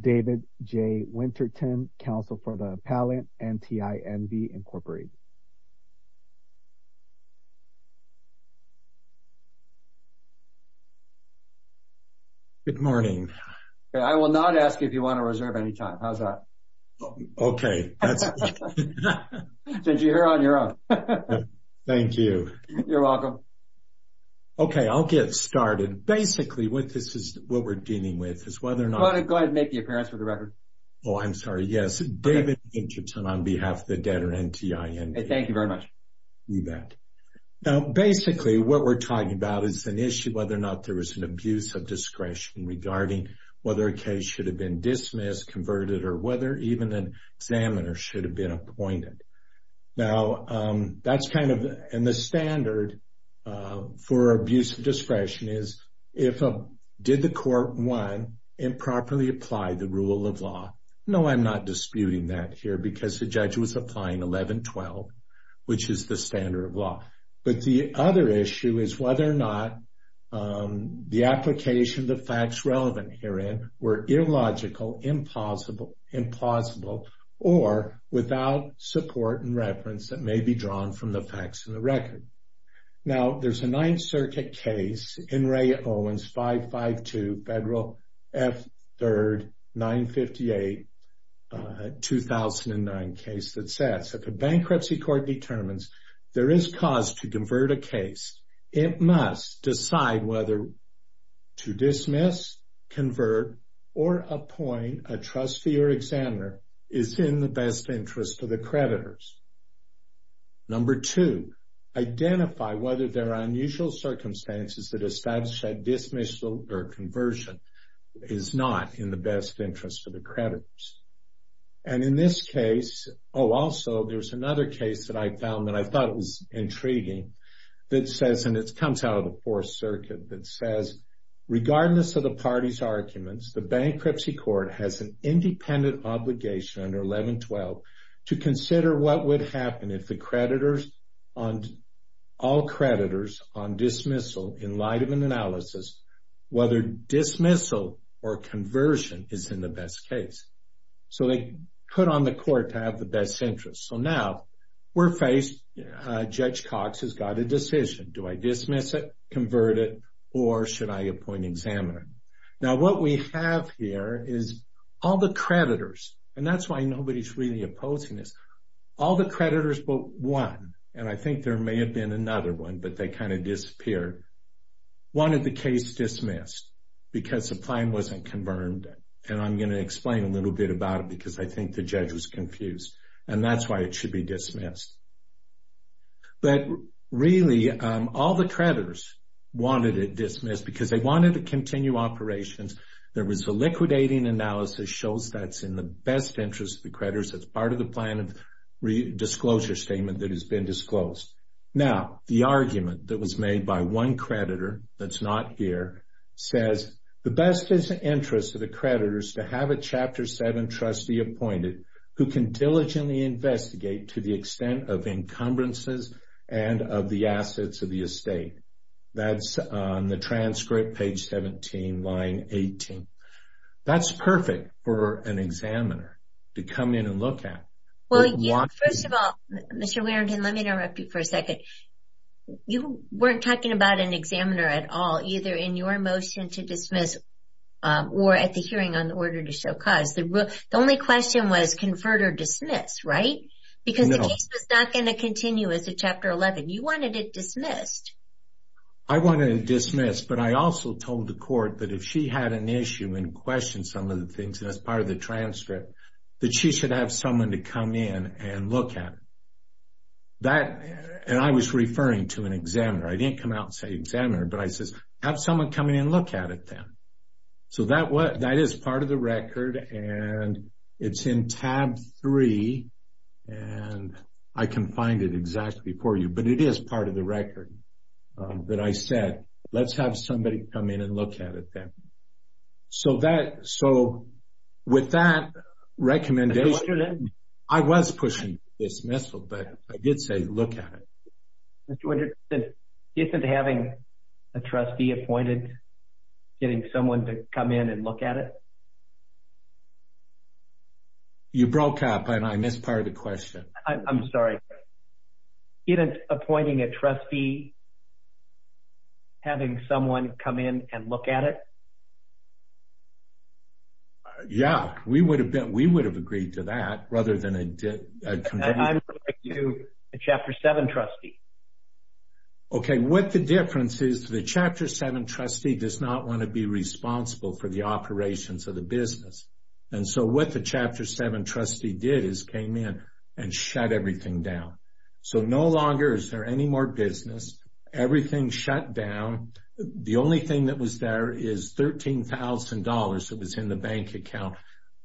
David J. Winterton, counsel for the appellant, NTI-NV, Inc. Good morning. I will not ask if you want to reserve any time. How's that? Okay. Since you're here on your own. Thank you. You're welcome. Okay, I'll get started. Basically, what we're dealing with is whether or not... Go ahead and make the appearance for the record. Oh, I'm sorry. Yes. David Winterton on behalf of the debtor, NTI-NV. Thank you very much. You bet. Now, basically, what we're talking about is an issue, whether or not there was an abuse of discretion regarding whether a case should have been dismissed, converted, or whether even an examiner should have been appointed. Now, that's kind of... And the standard for abuse of discretion is, did the court, one, improperly apply the rule of law? No, I'm not disputing that here because the judge was applying 1112, which is the standard of law. But the other issue is whether or not the application, the facts relevant herein, were illogical, impossible, or without support and reference that may be drawn from the facts in the record. Now, there's a Ninth Circuit case, N. Ray Owens 552 Federal F. 3rd 958-2009 case that says, if a bankruptcy court determines there is cause to convert a case, it must decide whether to dismiss, convert, or appoint a trustee or examiner is in the best interest of the creditors. Number two, identify whether there are unusual circumstances that establish that dismissal or conversion is not in the best interest of the creditors. And in this case... Oh, also, there's another case that I found that I thought was intriguing that says, and it comes out of the Fourth Circuit, that says, regardless of the party's arguments, the bankruptcy court has an independent obligation under 1112 to consider what would happen if all creditors on dismissal, in light of an analysis, whether dismissal or conversion is in the best case. So they put on the court to have the best interest. So now we're faced, Judge Cox has got a decision. Do I dismiss it, convert it, or should I appoint an examiner? Now what we have here is all the creditors, and that's why nobody's really opposing this, all the creditors but one, and I think there may have been another one, but they kind of disappeared, wanted the case dismissed because the claim wasn't confirmed. And I'm going to explain a little bit about it because I think the judge was confused. And that's why it should be dismissed. But really all the creditors wanted it dismissed because they wanted to continue operations. There was a liquidating analysis that shows that's in the best interest of the creditors. That's part of the plan of disclosure statement that has been disclosed. Now the argument that was made by one creditor that's not here says, the best interest of the creditors to have a Chapter 7 trustee appointed who can diligently investigate to the extent of encumbrances and of the assets of the estate. That's on the transcript, page 17, line 18. That's perfect for an examiner to come in and look at. First of all, Mr. Warrington, let me interrupt you for a second. You weren't talking about an examiner at all, either in your motion to dismiss or at the hearing on the order to show cause. The only question was conferred or dismissed, right? Because the case was not going to continue as a Chapter 11. You wanted it dismissed. I wanted it dismissed, but I also told the court that if she had an issue and questioned some of the things, and that's part of the transcript, that she should have someone to come in and look at it. And I was referring to an examiner. I didn't come out and say examiner, but I said, have someone come in and look at it then. So that is part of the record, and it's in tab 3, and I can find it exactly for you. But it is part of the record that I said, let's have somebody come in and look at it then. So with that recommendation, I was pushing dismissal, but I did say look at it. Mr. Winters, isn't having a trustee appointed, getting someone to come in and look at it? You broke up, and I missed part of the question. I'm sorry. Isn't appointing a trustee, having someone come in and look at it? Yeah, we would have agreed to that rather than a committee. I'm referring to the Chapter 7 trustee. Okay, what the difference is, the Chapter 7 trustee does not want to be responsible for the operations of the business. And so what the Chapter 7 trustee did is came in and shut everything down. So no longer is there any more business. Everything shut down. The only thing that was there is $13,000 that was in the bank account.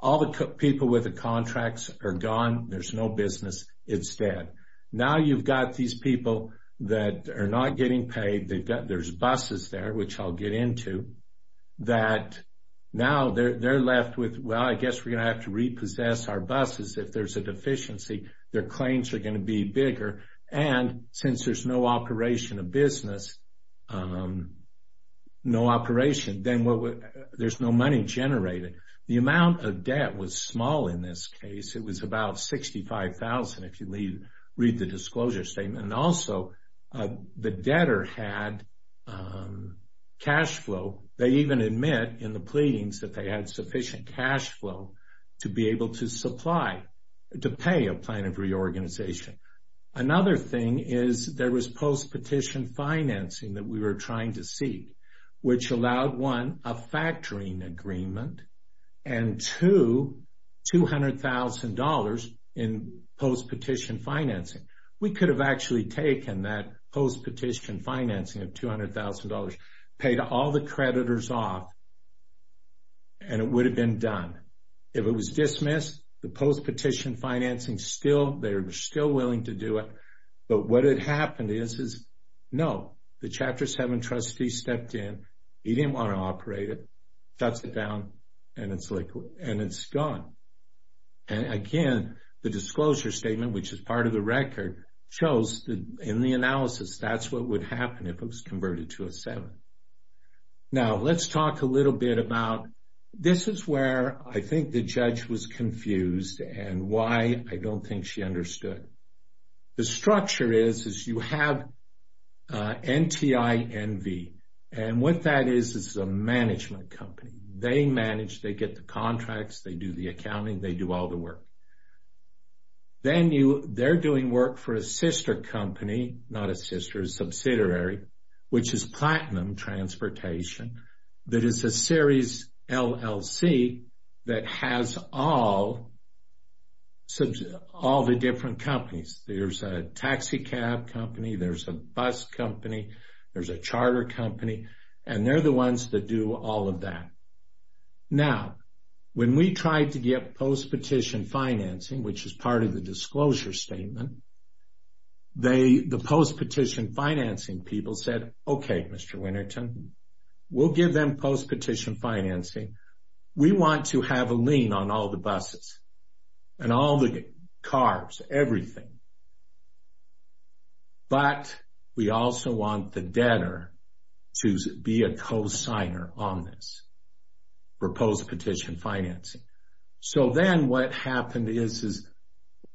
All the people with the contracts are gone. There's no business. It's dead. Now you've got these people that are not getting paid. There's buses there, which I'll get into, that now they're left with, well, I guess we're going to have to repossess our buses if there's a deficiency. Their claims are going to be bigger. And since there's no operation of business, no operation, then there's no money generated. The amount of debt was small in this case. It was about $65,000 if you read the disclosure statement. And also the debtor had cash flow. They even admit in the pleadings that they had sufficient cash flow to be able to supply, to pay a plan of reorganization. Another thing is there was post-petition financing that we were trying to seek, which allowed, one, a factoring agreement, and two, $200,000 in post-petition financing. We could have actually taken that post-petition financing of $200,000, paid all the creditors off, and it would have been done. If it was dismissed, the post-petition financing still, they're still willing to do it. But what had happened is, no, the Chapter 7 trustee stepped in, he didn't want to operate it, shuts it down, and it's gone. And, again, the disclosure statement, which is part of the record, shows in the analysis that's what would happen if it was converted to a 7. Now let's talk a little bit about this is where I think the judge was confused and why I don't think she understood. The structure is you have NTINV, and what that is is a management company. They manage, they get the contracts, they do the accounting, they do all the work. Then they're doing work for a sister company, not a sister, a subsidiary, which is Platinum Transportation, that is a series LLC that has all the different companies. There's a taxicab company, there's a bus company, there's a charter company, and they're the ones that do all of that. Now, when we tried to get post-petition financing, which is part of the disclosure statement, the post-petition financing people said, Okay, Mr. Winnerton, we'll give them post-petition financing. We want to have a lien on all the buses and all the cars, everything, but we also want the debtor to be a co-signer on this for post-petition financing. So then what happened is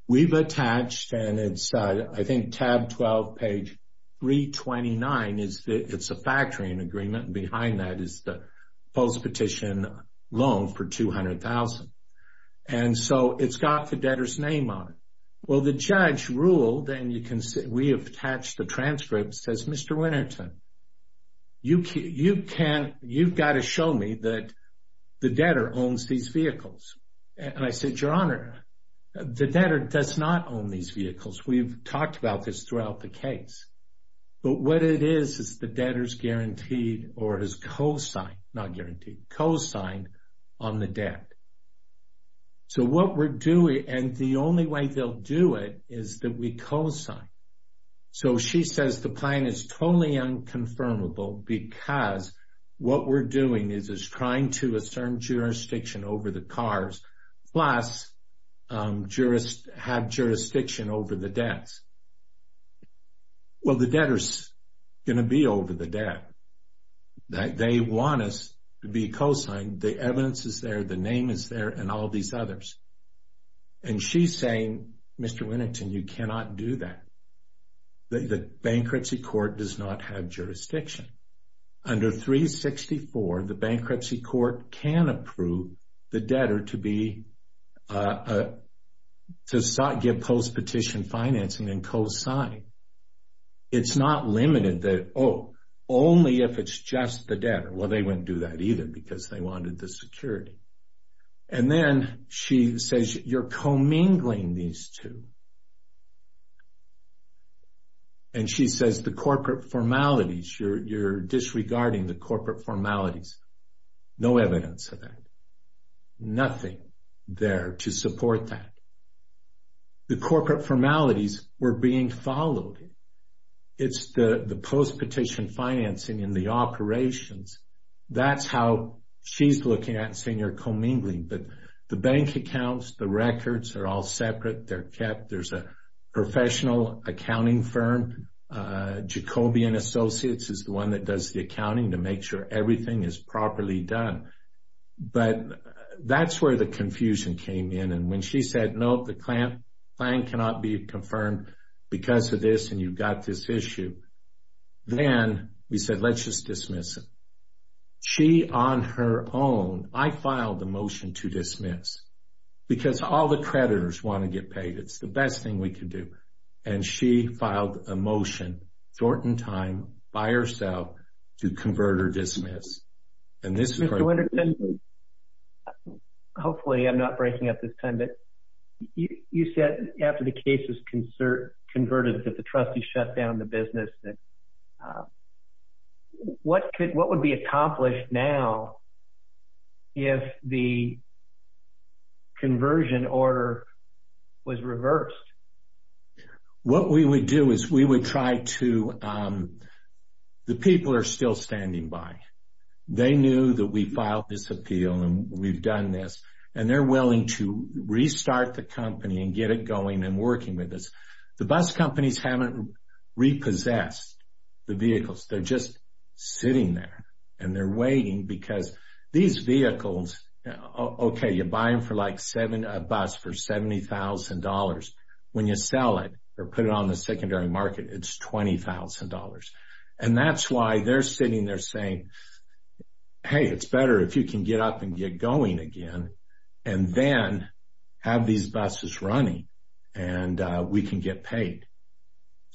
we've attached, and it's, I think, tab 12, page 329, it's a factoring agreement, and behind that is the post-petition loan for $200,000. And so it's got the debtor's name on it. Well, the judge ruled, and we have attached the transcript, it says, Mr. Winnerton, you've got to show me that the debtor owns these vehicles. And I said, Your Honor, the debtor does not own these vehicles. We've talked about this throughout the case. But what it is is the debtor's guaranteed or has co-signed, not guaranteed, co-signed on the debt. So what we're doing, and the only way they'll do it is that we co-sign. So she says the plan is totally unconfirmable because what we're doing is trying to assert jurisdiction over the cars plus have jurisdiction over the debts. Well, the debtor's going to be over the debt. They want us to be co-signed. The evidence is there, the name is there, and all these others. And she's saying, Mr. Winnerton, you cannot do that. The bankruptcy court does not have jurisdiction. Under 364, the bankruptcy court can approve the debtor to give post-petition financing and co-sign. It's not limited that, oh, only if it's just the debtor. Well, they wouldn't do that either because they wanted the security. And then she says you're commingling these two. And she says the corporate formalities, you're disregarding the corporate formalities. No evidence of that. Nothing there to support that. The corporate formalities were being followed. It's the post-petition financing and the operations. That's how she's looking at it and saying you're commingling. But the bank accounts, the records are all separate. They're kept. There's a professional accounting firm. Jacobian Associates is the one that does the accounting to make sure everything is properly done. But that's where the confusion came in. And when she said, no, the plan cannot be confirmed because of this and you've got this issue. Then we said let's just dismiss it. She on her own, I filed a motion to dismiss because all the creditors want to get paid. It's the best thing we can do. And she filed a motion, short in time, by herself to convert or dismiss. And this is where we're going. Hopefully I'm not breaking up this time. You said after the case was converted that the trustees shut down the business. What would be accomplished now if the conversion order was reversed? What we would do is we would try to – the people are still standing by. They knew that we filed this appeal and we've done this. And they're willing to restart the company and get it going and working with us. The bus companies haven't repossessed the vehicles. They're just sitting there and they're waiting because these vehicles, okay, you buy them for like a bus for $70,000. When you sell it or put it on the secondary market, it's $20,000. And that's why they're sitting there saying, hey, it's better if you can get up and get going again and then have these buses running and we can get paid.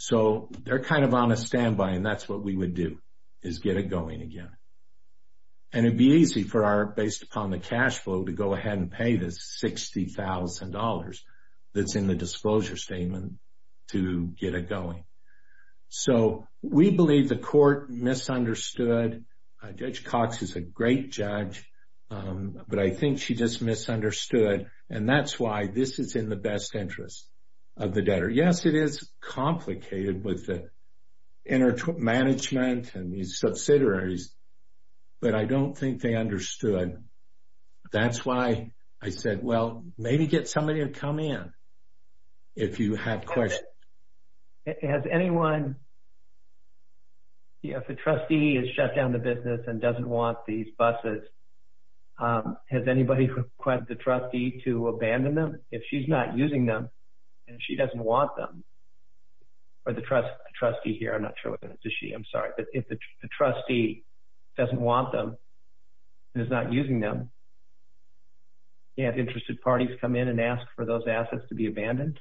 So they're kind of on a standby and that's what we would do is get it going again. And it would be easy for our – based upon the cash flow to go ahead and pay this $60,000 that's in the disclosure statement to get it going. So we believe the court misunderstood. Judge Cox is a great judge, but I think she just misunderstood. And that's why this is in the best interest of the debtor. Yes, it is complicated with the management and the subsidiaries, but I don't think they understood. That's why I said, well, maybe get somebody to come in if you have questions. Has anyone – if the trustee has shut down the business and doesn't want these buses, has anybody requested the trustee to abandon them? If she's not using them and she doesn't want them – or the trustee here. I'm not sure whether it's a she. I'm sorry. But if the trustee doesn't want them and is not using them, do you have interested parties come in and ask for those assets to be abandoned?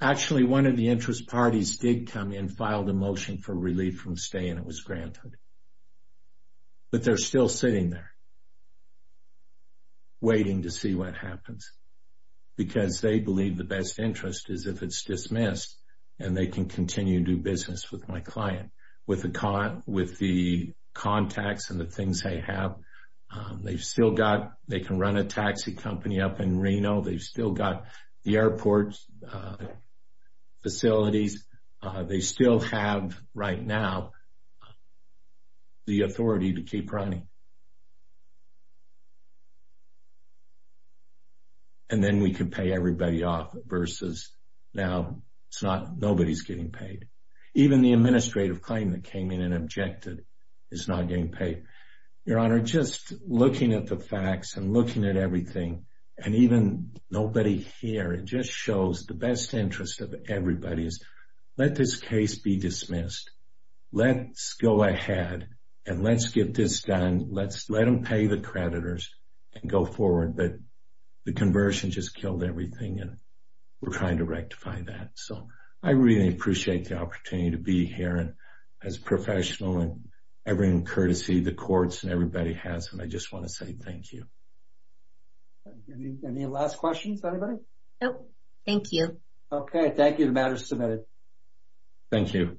Actually, one of the interest parties did come in, filed a motion for relief from stay, and it was granted. But they're still sitting there waiting to see what happens because they believe the best interest is if it's dismissed and they can continue to do business with my client with the contacts and the things they have. They've still got – they can run a taxi company up in Reno. They've still got the airport facilities. They still have, right now, the authority to keep running. And then we can pay everybody off versus now it's not – nobody's getting paid. Even the administrative claim that came in and objected is not getting paid. Your Honor, just looking at the facts and looking at everything and even nobody here, it just shows the best interest of everybody is let this case be dismissed. Let's go ahead and let's get this done. Let's let them pay the creditors and go forward. But the conversion just killed everything, and we're trying to rectify that. So I really appreciate the opportunity to be here as a professional and I bring courtesy to the courts and everybody has them. I just want to say thank you. Any last questions, anybody? Nope. Thank you. Okay. Thank you. The matter is submitted. Thank you.